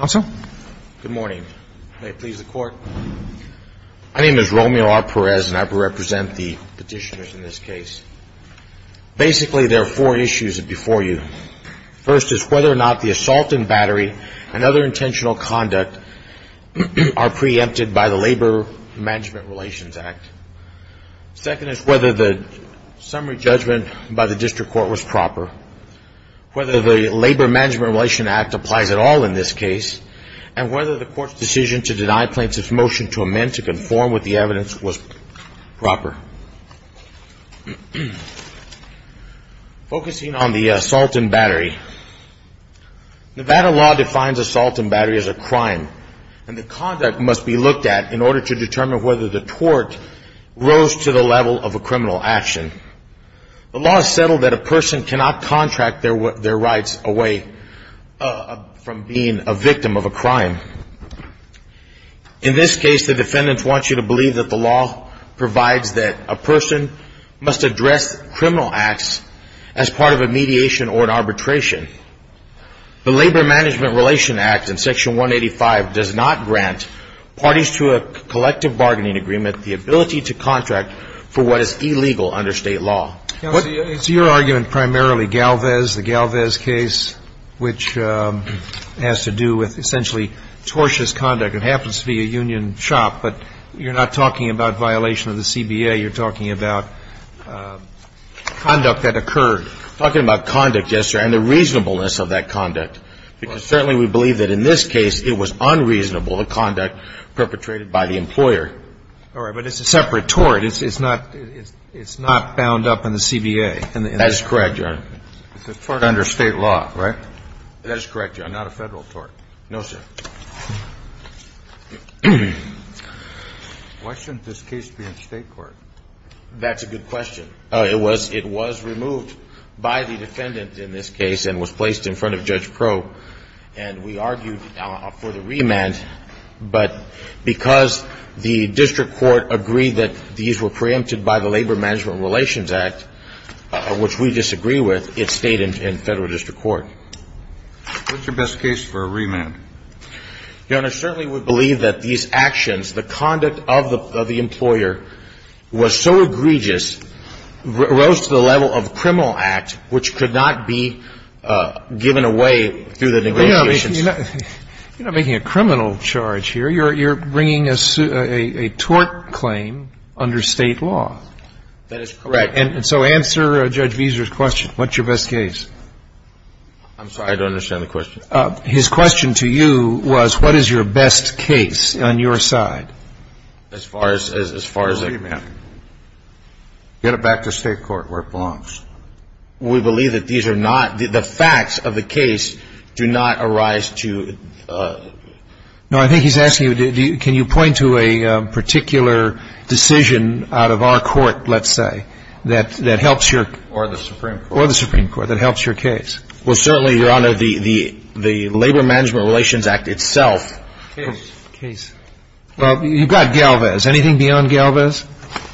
Good morning. May it please the court. My name is Romeo R. Perez, and I will represent the petitioners in this case. Basically, there are four issues before you. First is whether or not the assault and battery and other intentional conduct are preempted by the Labor Management Relations Act. Second is whether the summary judgment by the district court was proper. Whether the Labor Management Relations Act applies at all in this case, and whether the court's decision to deny plaintiffs' motion to amend to conform with the evidence was proper. Focusing on the assault and battery, Nevada law defines assault and battery as a crime, and the conduct must be looked at in order to contract their rights away from being a victim of a crime. In this case, the defendants want you to believe that the law provides that a person must address criminal acts as part of a mediation or an arbitration. The Labor Management Relations Act in Section 185 does not grant parties to a collective bargaining agreement the ability to contract for what is illegal under state law. It's your argument primarily Galvez, the Galvez case, which has to do with essentially tortious conduct. It happens to be a union shop, but you're not talking about violation of the CBA. You're talking about conduct that occurred. Talking about conduct, yes, sir, and the reasonableness of that conduct, because certainly we believe that in this case it was unreasonable, the conduct perpetrated by the employer. All right, but it's a separate tort. It's not bound up in the CBA. That is correct, Your Honor. It's a tort under state law, right? That is correct, Your Honor, not a Federal tort. No, sir. Why shouldn't this case be in State court? That's a good question. It was removed by the defendant in this case and was placed in front of Judge Pro. And we argued for the remand, but because the district court agreed that these were preempted by the Labor Management Relations Act, which we disagree with, it stayed in Federal district court. What's your best case for a remand? Your Honor, certainly we believe that these actions, the conduct of the employer was so egregious, rose to the level of criminal act, which could not be given away through the negotiations. You're not making a criminal charge here. You're bringing a tort claim under state law. That is correct. And so answer Judge Veser's question. What's your best case? I'm sorry. I don't understand the question. His question to you was what is your best case on your side? As far as a remand. Get it back to State court where it belongs. We believe that these are not, the facts of the case do not arise to. No, I think he's asking you, can you point to a particular decision out of our court, let's say, that helps your. Or the Supreme Court. Or the Supreme Court that helps your case. Well, certainly, Your Honor, the Labor Management Relations Act itself. Case. Case. Well, you've got Galvez. Anything beyond Galvez?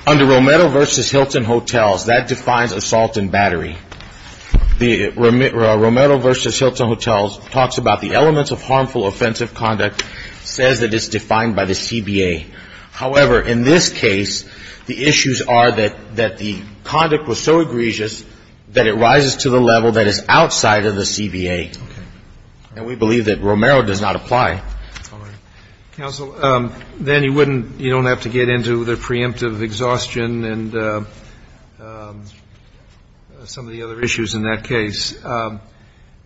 Under Romero v. Hilton Hotels, that defines assault and battery. The Romero v. Hilton Hotels talks about the elements of harmful offensive conduct, says that it's defined by the CBA. However, in this case, the issues are that the conduct was so egregious that it rises to the level that is outside of the CBA. And we believe that Romero does not apply. Counsel, then you wouldn't, you don't have to get into the preemptive exhaustion and some of the other issues in that case.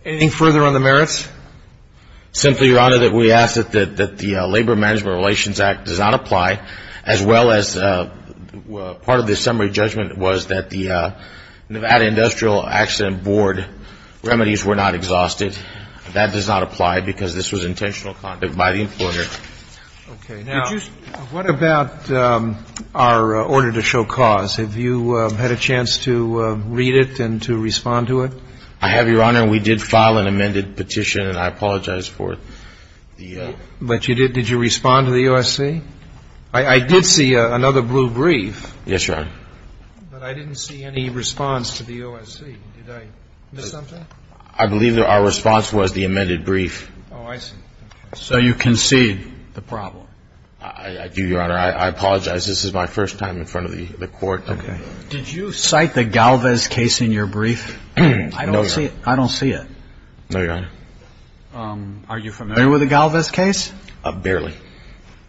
Anything further on the merits? Simply, Your Honor, that we ask that the Labor Management Relations Act does not apply, as well as part of the summary judgment was that the Nevada Industrial Accident Board remedies were not exhausted. That does not apply because this was intentional conduct by the employer. Okay. Now, what about our order to show cause? Have you had a chance to read it and to respond to it? I have, Your Honor. We did file an amended petition, and I apologize for the ---- But you did. Did you respond to the OSC? I did see another blue brief. Yes, Your Honor. But I didn't see any response to the OSC. Did I miss something? I believe that our response was the amended brief. Oh, I see. So you concede the problem. I do, Your Honor. I apologize. This is my first time in front of the Court. Okay. Did you cite the Galvez case in your brief? No, Your Honor. I don't see it. No, Your Honor. Are you familiar with the Galvez case? Barely.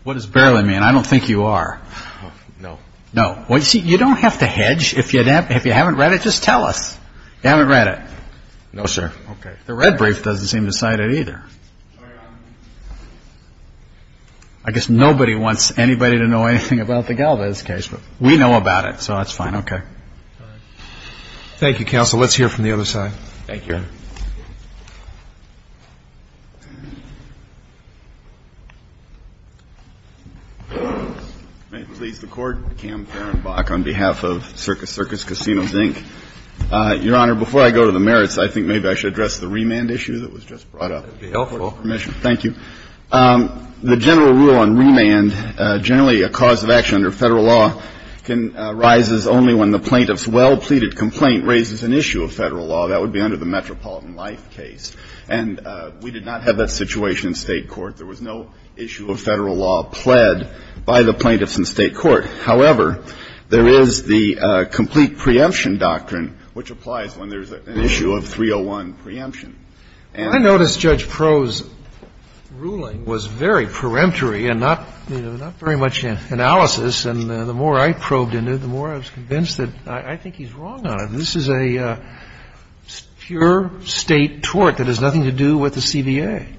What does barely mean? I don't think you are. No. No. Well, you see, you don't have to hedge. If you haven't read it, just tell us. You haven't read it? No, sir. Okay. The red brief doesn't seem to cite it either. Sorry, Your Honor. I guess nobody wants anybody to know anything about the Galvez case, but we know about it, so that's fine. Okay. All right. Thank you, counsel. Let's hear from the other side. Thank you, Your Honor. May it please the Court. Cam Ferenbach on behalf of Circus Circus Casinos, Inc. Your Honor, before I go to the merits, I think maybe I should address the remand issue that was just brought up. That would be helpful. With your permission. Thank you. The general rule on remand, generally a cause of action under Federal law, can rise only when the plaintiff's well-pleaded complaint raises an issue of Federal law. That would be under the Metropolitan Life case. And we did not have that situation in State court. There was no issue of Federal law pled by the plaintiffs in State court. However, there is the complete preemption doctrine, which applies when there's an issue of 301 preemption. I noticed Judge Proh's ruling was very peremptory and not very much analysis. And the more I probed into it, the more I was convinced that I think he's wrong on it. This is a pure State tort that has nothing to do with the CBA.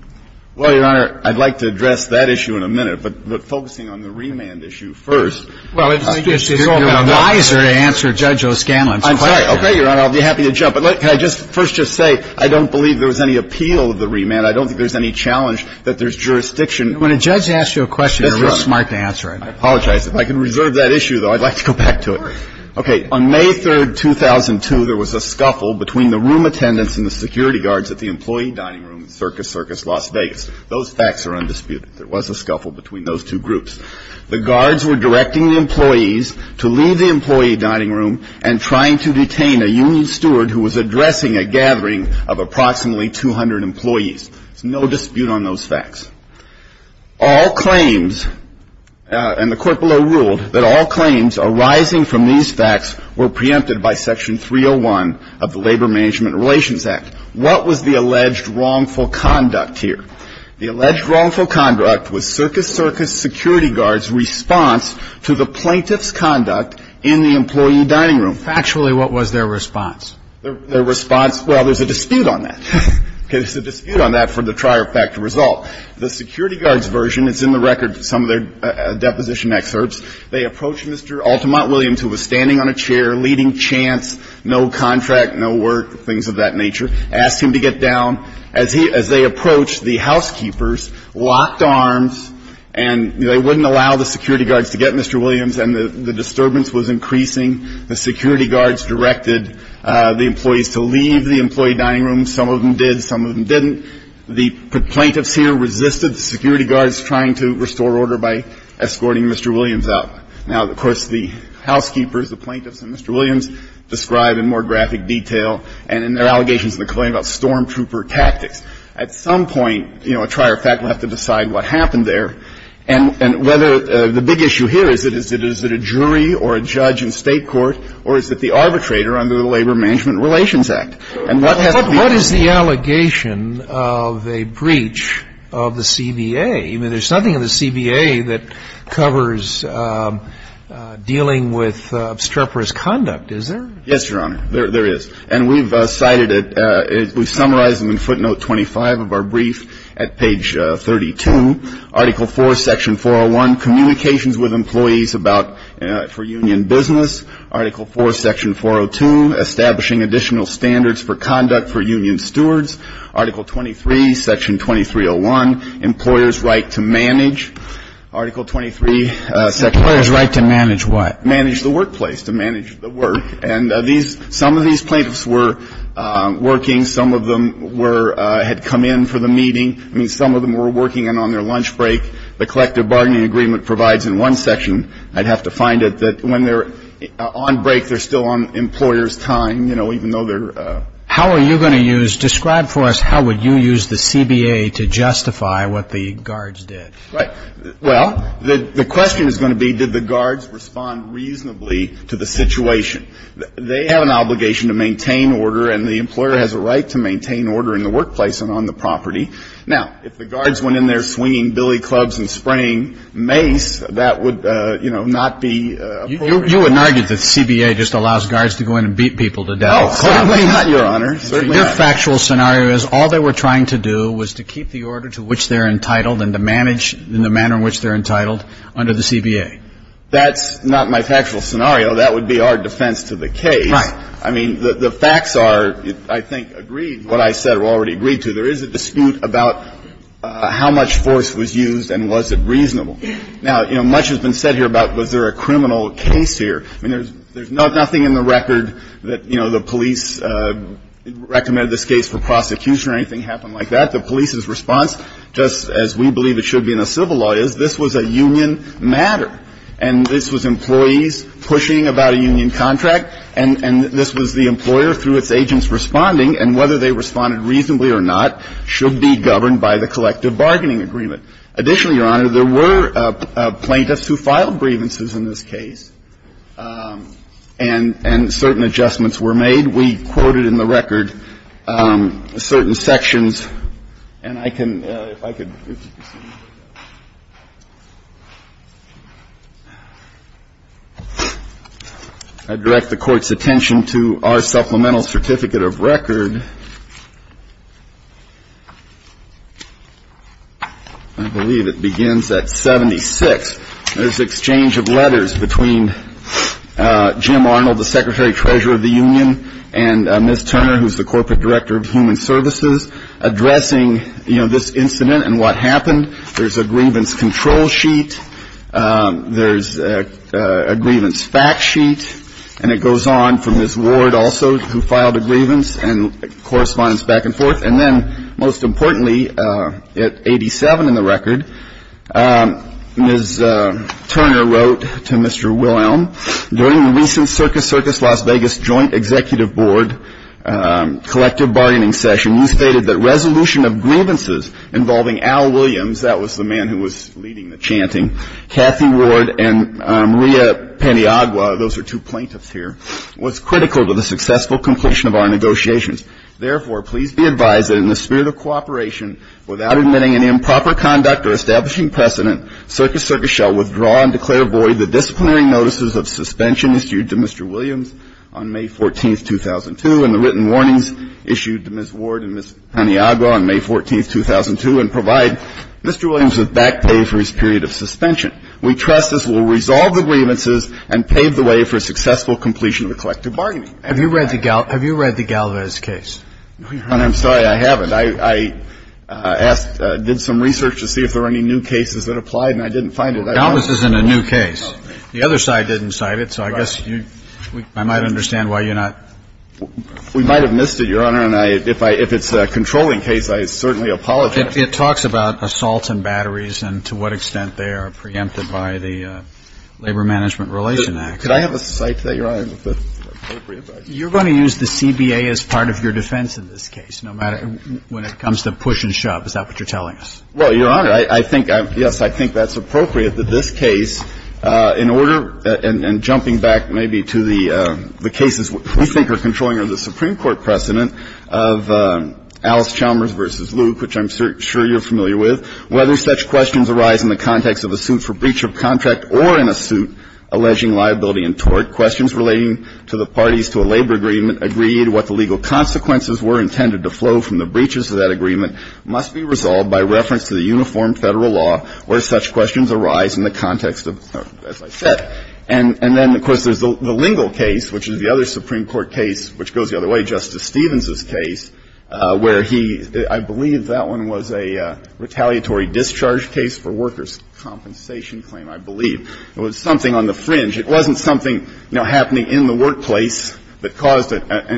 Well, Your Honor, I'd like to address that issue in a minute. But focusing on the remand issue first. Well, I guess you're wiser to answer Judge O'Scanlon's question. I'm sorry. Okay, Your Honor. I'll be happy to jump in. Can I just first just say I don't believe there was any appeal of the remand. I don't think there's any challenge that there's jurisdiction. When a judge asks you a question, you're really smart to answer it. I apologize. If I can reserve that issue, though, I'd like to go back to it. Okay. On May 3rd, 2002, there was a scuffle between the room attendants and the security guards at the employee dining room at Circus Circus Las Vegas. Those facts are undisputed. There was a scuffle between those two groups. The guards were directing the employees to leave the employee dining room and trying to detain a union steward who was addressing a gathering of approximately 200 employees. There's no dispute on those facts. All claims, and the court below ruled that all claims arising from these facts were preempted by Section 301 of the Labor Management Relations Act. What was the alleged wrongful conduct here? The alleged wrongful conduct was Circus Circus security guards' response to the plaintiff's conduct in the employee dining room. Factually, what was their response? Their response? Well, there's a dispute on that. Okay. There's a dispute on that for the trier factor result. The security guards' version is in the record, some of their deposition excerpts. They approached Mr. Altamont Williams, who was standing on a chair, leading chants, no contract, no work, things of that nature, asked him to get down. As they approached, the housekeepers locked arms, and they wouldn't allow the security guards to get Mr. Williams, and the disturbance was increasing. The security guards directed the employees to leave the employee dining room. Some of them did. Some of them didn't. The plaintiffs here resisted the security guards trying to restore order by escorting Mr. Williams out. Now, of course, the housekeepers, the plaintiffs, and Mr. Williams describe in more graphic detail and in their allegations in the claim about stormtrooper tactics. At some point, you know, a trier factor will have to decide what happened there and whether the big issue here is that is it a jury or a judge in State court or is it the arbitrator under the Labor Management Relations Act? And what has been the case? What is the allegation of a breach of the CBA? I mean, there's nothing in the CBA that covers dealing with obstreperous conduct, is there? Yes, Your Honor. There is. And we've cited it. We've summarized them in footnote 25 of our brief at page 32. Article 4, section 401, communications with employees about for union business. Article 4, section 402, establishing additional standards for conduct for union stewards. Article 23, section 2301, employer's right to manage. Article 23, section 402. Employer's right to manage what? Manage the workplace, to manage the work. And these – some of these plaintiffs were working. Some of them were – had come in for the meeting. I mean, some of them were working and on their lunch break. The collective bargaining agreement provides in one section – I'd have to find it – that when they're on break, they're still on employer's time, you know, even though they're – How are you going to use – describe for us how would you use the CBA to justify what the guards did. Right. Well, the question is going to be did the guards respond reasonably to the situation. They have an obligation to maintain order, and the employer has a right to maintain order in the workplace and on the property. Now, if the guards went in there swinging billy clubs and spraying mace, that would, you know, not be appropriate. You would argue that the CBA just allows guards to go in and beat people to death. Oh, certainly not, Your Honor. Certainly not. Your factual scenario is all they were trying to do was to keep the order to which they're entitled and to manage in the manner in which they're entitled under the CBA. That's not my factual scenario. That would be our defense to the case. Right. I mean, the facts are, I think, agreed, what I said were already agreed to. There is a dispute about how much force was used and was it reasonable. Now, you know, much has been said here about was there a criminal case here. I mean, there's nothing in the record that, you know, the police recommended this case for prosecution or anything happened like that. The police's response, just as we believe it should be in a civil law, is this was a union matter, and this was employees pushing about a union contract, and this was the employer responding, and whether they responded reasonably or not should be governed by the collective bargaining agreement. Additionally, Your Honor, there were plaintiffs who filed grievances in this case, and certain adjustments were made. We quoted in the record certain sections, and I can, if I could, if you could see I believe it begins at 76. There's exchange of letters between Jim Arnold, the Secretary-Treasurer of the union, and Ms. Turner, who's the Corporate Director of Human Services, addressing, you know, this incident and what happened. There's a grievance control sheet. There's a grievance fact sheet. And it goes on from Ms. Ward also, who filed a grievance, and correspondence back and forth. And then, most importantly, at 87 in the record, Ms. Turner wrote to Mr. Wilhelm, during the recent Circus Circus Las Vegas Joint Executive Board collective bargaining session, you stated that resolution of grievances involving Al Williams, that was the man who was leading the chanting, Cathy Ward, and Maria Paniagua, those are two plaintiffs here, was critical to the successful completion of our negotiations. Therefore, please be advised that in the spirit of cooperation, without admitting an improper conduct or establishing precedent, Circus Circus shall withdraw and declare void the disciplinary notices of suspension issued to Mr. Williams on May 14th, 2002, and the written warnings issued to Ms. Ward and Ms. Paniagua on May 14th, 2002, and provide Mr. Williams with back pay for his period of suspension. We trust this will resolve the grievances and pave the way for a successful completion of the collective bargaining. Have you read the Galvez case? Your Honor, I'm sorry, I haven't. I asked, did some research to see if there were any new cases that applied, and I didn't find it. Galvez isn't a new case. The other side didn't cite it, so I guess I might understand why you're not. We might have missed it, Your Honor, and if it's a controlling case, I certainly apologize. It talks about assaults and batteries and to what extent they are preempted by the Labor Management Relation Act. Could I have a cite to that, Your Honor, if that's appropriate? You're going to use the CBA as part of your defense in this case, no matter when it comes to push and shove. Is that what you're telling us? Well, Your Honor, I think, yes, I think that's appropriate that this case, in order to, and jumping back maybe to the cases we think are controlling or the Supreme Court precedent of Alice Chalmers v. Luke, which I'm sure you're familiar with, whether such questions arise in the context of a suit for breach of contract or in a suit alleging liability and tort, questions relating to the parties to a labor agreement agree to what the legal consequences were intended to flow from the breaches of that agreement must be resolved by reference to the uniform Federal law where such questions arise in the context of, as I said. And then, of course, there's the Lingle case, which is the other Supreme Court case, which goes the other way, Justice Stevens's case, where he, I believe that one was a retaliatory discharge case for workers' compensation claim, I believe. It was something on the fringe. It wasn't something, you know, happening in the workplace that caused an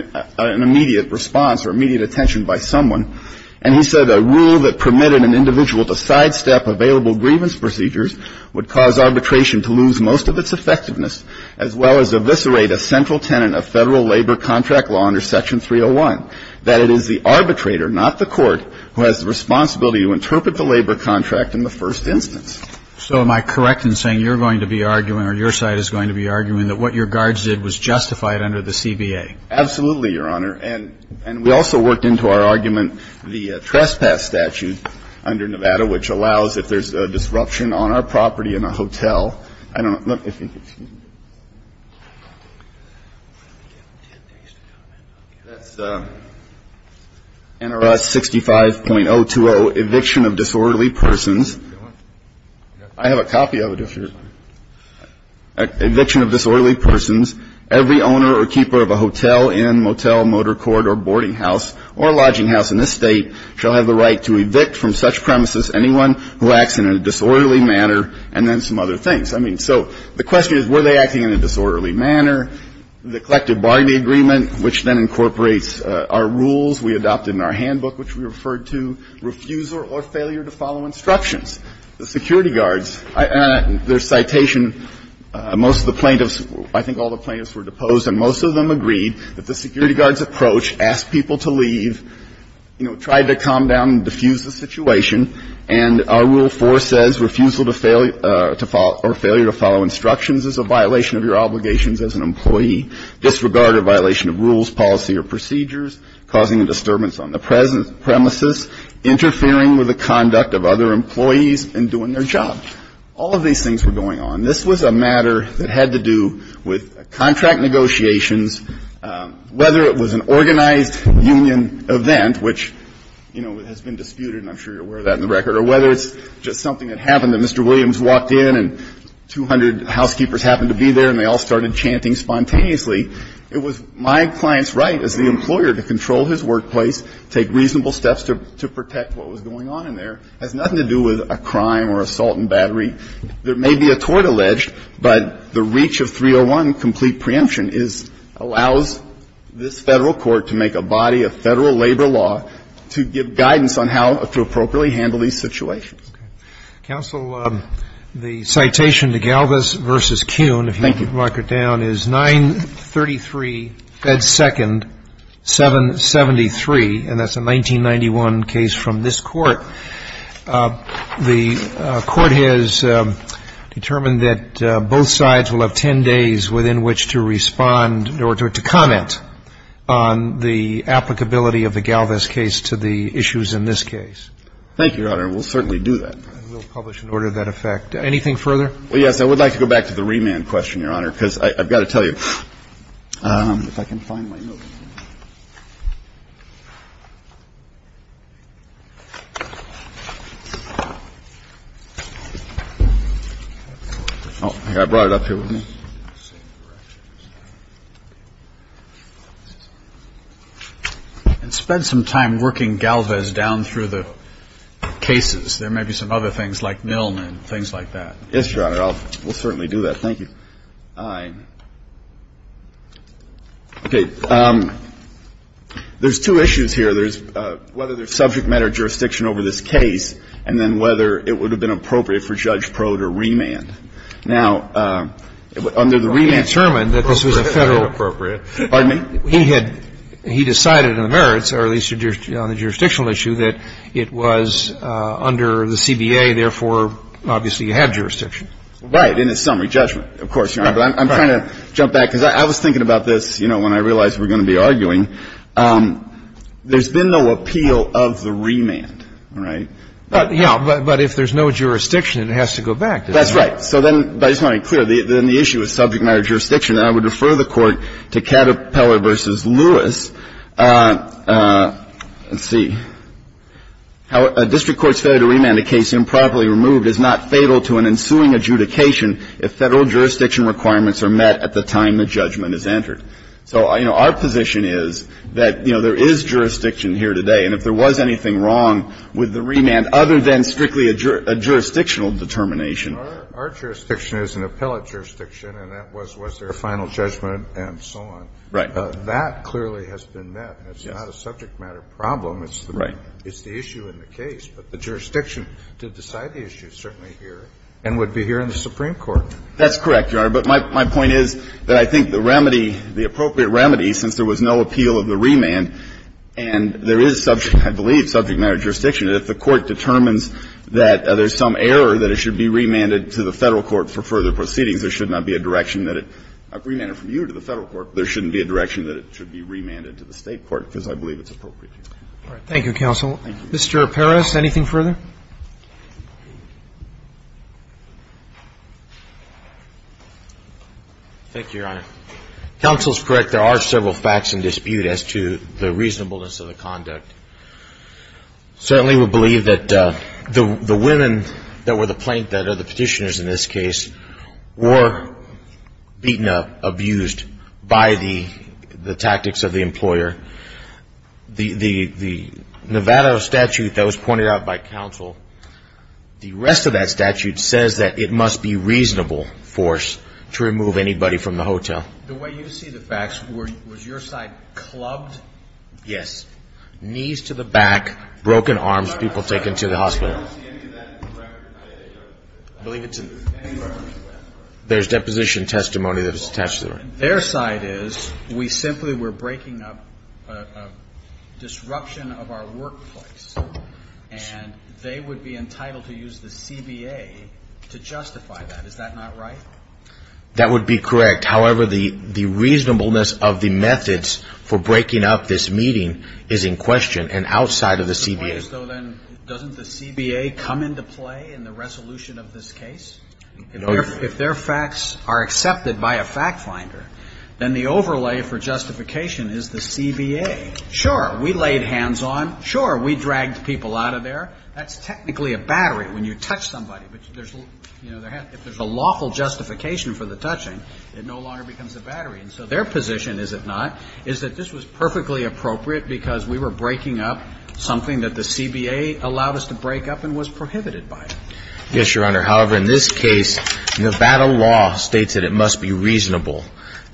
immediate response or immediate attention by someone. And he said a rule that permitted an individual to sidestep available grievance procedures would cause arbitration to lose most of its effectiveness, as well as eviscerate a central tenet of Federal labor contract law under Section 301, that it is the arbitrator, not the court, who has the responsibility to interpret the labor contract in the first instance. So am I correct in saying you're going to be arguing or your side is going to be arguing that what your guards did was justified under the CBA? Absolutely, Your Honor. And we also worked into our argument the trespass statute under Nevada, which allows if there's a disruption on our property in a hotel. I don't know. Excuse me. That's NRS 65.020, eviction of disorderly persons. I have a copy of it if you're. Eviction of disorderly persons. Every owner or keeper of a hotel, inn, motel, motor court or boarding house or lodging house in this State shall have the right to evict from such premises anyone who acts in a disorderly manner and then some other things. I mean, so the question is, were they acting in a disorderly manner? The collective bargaining agreement, which then incorporates our rules we adopted in our handbook, which we referred to, refusal or failure to follow instructions. The security guards. Their citation, most of the plaintiffs, I think all the plaintiffs were deposed and most of them agreed that the security guard's approach, ask people to leave, you know, tried to calm down and diffuse the situation. And our Rule 4 says refusal to fail or failure to follow instructions is a violation of your obligations as an employee, disregard or violation of rules, policy or procedures, causing a disturbance on the premises, interfering with the conduct of other employees and doing their job. All of these things were going on. This was a matter that had to do with contract negotiations, whether it was an organized union event, which, you know, has been disputed, and I'm sure you're aware of that in the record, or whether it's just something that happened that Mr. Williams walked in and 200 housekeepers happened to be there and they all started chanting spontaneously. It was my client's right as the employer to control his workplace, take reasonable steps to protect what was going on in there. It has nothing to do with a crime or assault and battery. There may be a tort alleged, but the reach of 301, complete preemption, is allows this Federal court to make a body of Federal labor law to give guidance on how to appropriately handle these situations. Okay. Counsel, the citation to Galvis v. Kuhn, if you could mark it down, is 933, Fed 2nd, 973, and that's a 1991 case from this Court. The Court has determined that both sides will have 10 days within which to respond or to comment on the applicability of the Galvis case to the issues in this case. Thank you, Your Honor. We'll certainly do that. And we'll publish an order of that effect. Anything further? Well, yes. I would like to go back to the remand question, Your Honor, because I've got to tell you, if I can find my notes. I brought it up here with me. And spend some time working Galvis down through the cases. There may be some other things like Milne and things like that. Yes, Your Honor. We'll certainly do that. Thank you. Mr. Kramer. Aye. Okay. There's two issues here. There's whether there's subject matter jurisdiction over this case and then whether it would have been appropriate for Judge Proudt to remand. Now, under the remand. It was already determined that this was a Federal appropriate. Pardon me? He had he decided in the merits or at least on the jurisdictional issue that it was under the CBA. Therefore, obviously, you had jurisdiction. Right. In a summary judgment, of course, Your Honor. Right. But I'm trying to jump back because I was thinking about this, you know, when I realized we were going to be arguing. There's been no appeal of the remand, right? Yeah. But if there's no jurisdiction, it has to go back, doesn't it? That's right. So then I just want to be clear. Then the issue of subject matter jurisdiction. And I would refer the Court to Caterpillar v. Lewis. Let's see. A district court's failure to remand a case improperly removed is not fatal to an ensuing adjudication if Federal jurisdiction requirements are met at the time the judgment is entered. So, you know, our position is that, you know, there is jurisdiction here today. And if there was anything wrong with the remand other than strictly a jurisdictional determination. Our jurisdiction is an appellate jurisdiction, and that was their final judgment and so on. Right. That clearly has been met. It's not a subject matter problem. It's the issue in the case. But the jurisdiction to decide the issue is certainly here and would be here in the Supreme Court. That's correct, Your Honor. But my point is that I think the remedy, the appropriate remedy, since there was no appeal of the remand, and there is subject, I believe, subject matter jurisdiction, that if the Court determines that there's some error, that it should be remanded to the Federal court for further proceedings, there should not be a direction that it remanded from you to the Federal court. There shouldn't be a direction that it should be remanded to the State court, because I believe it's appropriate. Thank you, counsel. Mr. Peres, anything further? Thank you, Your Honor. Counsel is correct. There are several facts in dispute as to the reasonableness of the conduct. Certainly we believe that the women that were the plaintiff, or the petitioners in this case, were beaten up, abused by the tactics of the employer. The Nevada statute that was pointed out by counsel, the rest of that statute says that it must be reasonable force to remove anybody from the hotel. The way you see the facts, was your side clubbed? Yes. Knees to the back, broken arms, people taken to the hospital. I don't see any of that in the record. I believe it's in the record. There's deposition testimony that is attached to the record. Their side is, we simply were breaking up a disruption of our workplace, and they would be entitled to use the CBA to justify that. Is that not right? That would be correct. However, the reasonableness of the methods for breaking up this meeting is in question and outside of the CBA. Doesn't the CBA come into play in the resolution of this case? If their facts are accepted by a fact finder, then the overlay for justification is the CBA. Sure, we laid hands on. Sure, we dragged people out of there. That's technically a battery when you touch somebody. But if there's a lawful justification for the touching, it no longer becomes a battery. And so their position, is it not, is that this was perfectly appropriate because we were breaking up something that the CBA allowed us to break up and was prohibited by it. Yes, Your Honor. However, in this case, Nevada law states that it must be reasonable.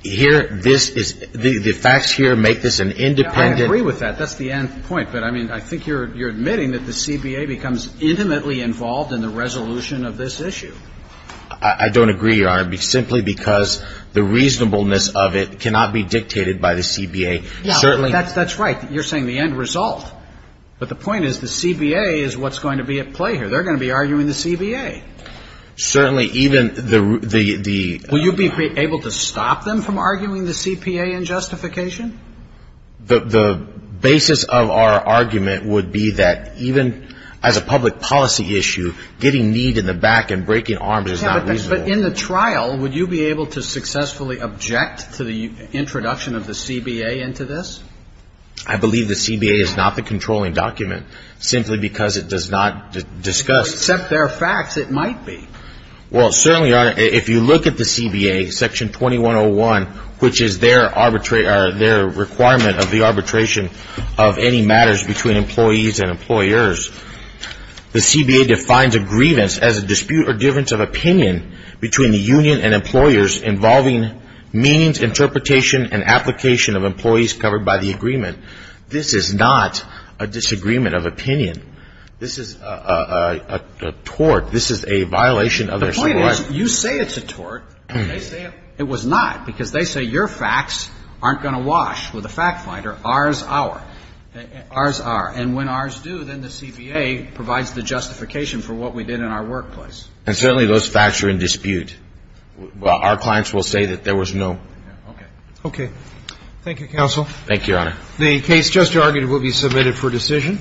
The facts here make this an independent. I agree with that. That's the end point. But, I mean, I think you're admitting that the CBA becomes intimately involved in the resolution of this issue. I don't agree, Your Honor, simply because the reasonableness of it cannot be dictated by the CBA. Certainly. That's right. You're saying the end result. But the point is the CBA is what's going to be at play here. They're going to be arguing the CBA. Certainly, even the ---- Will you be able to stop them from arguing the CPA in justification? The basis of our argument would be that even as a public policy issue, getting kneed in the back and breaking arms is not reasonable. But in the trial, would you be able to successfully object to the introduction of the CBA into this? I believe the CBA is not the controlling document, simply because it does not discuss. Except there are facts it might be. Well, certainly, Your Honor, if you look at the CBA, Section 2101, which is their requirement of the arbitration of any matters between employees and employers, the CBA defines a grievance as a dispute or difference of opinion between the union and employers involving meanings, interpretation, and application of employees covered by the agreement. This is not a disagreement of opinion. This is a tort. This is a violation of their civil rights. The point is, you say it's a tort. They say it was not, because they say your facts aren't going to wash with a fact finder. Ours are. Ours are. And when ours do, then the CBA provides the justification for what we did in our workplace. And certainly those facts are in dispute. Our clients will say that there was no. Okay. Okay. Thank you, counsel. Thank you, Your Honor. The case just argued will be submitted for decision.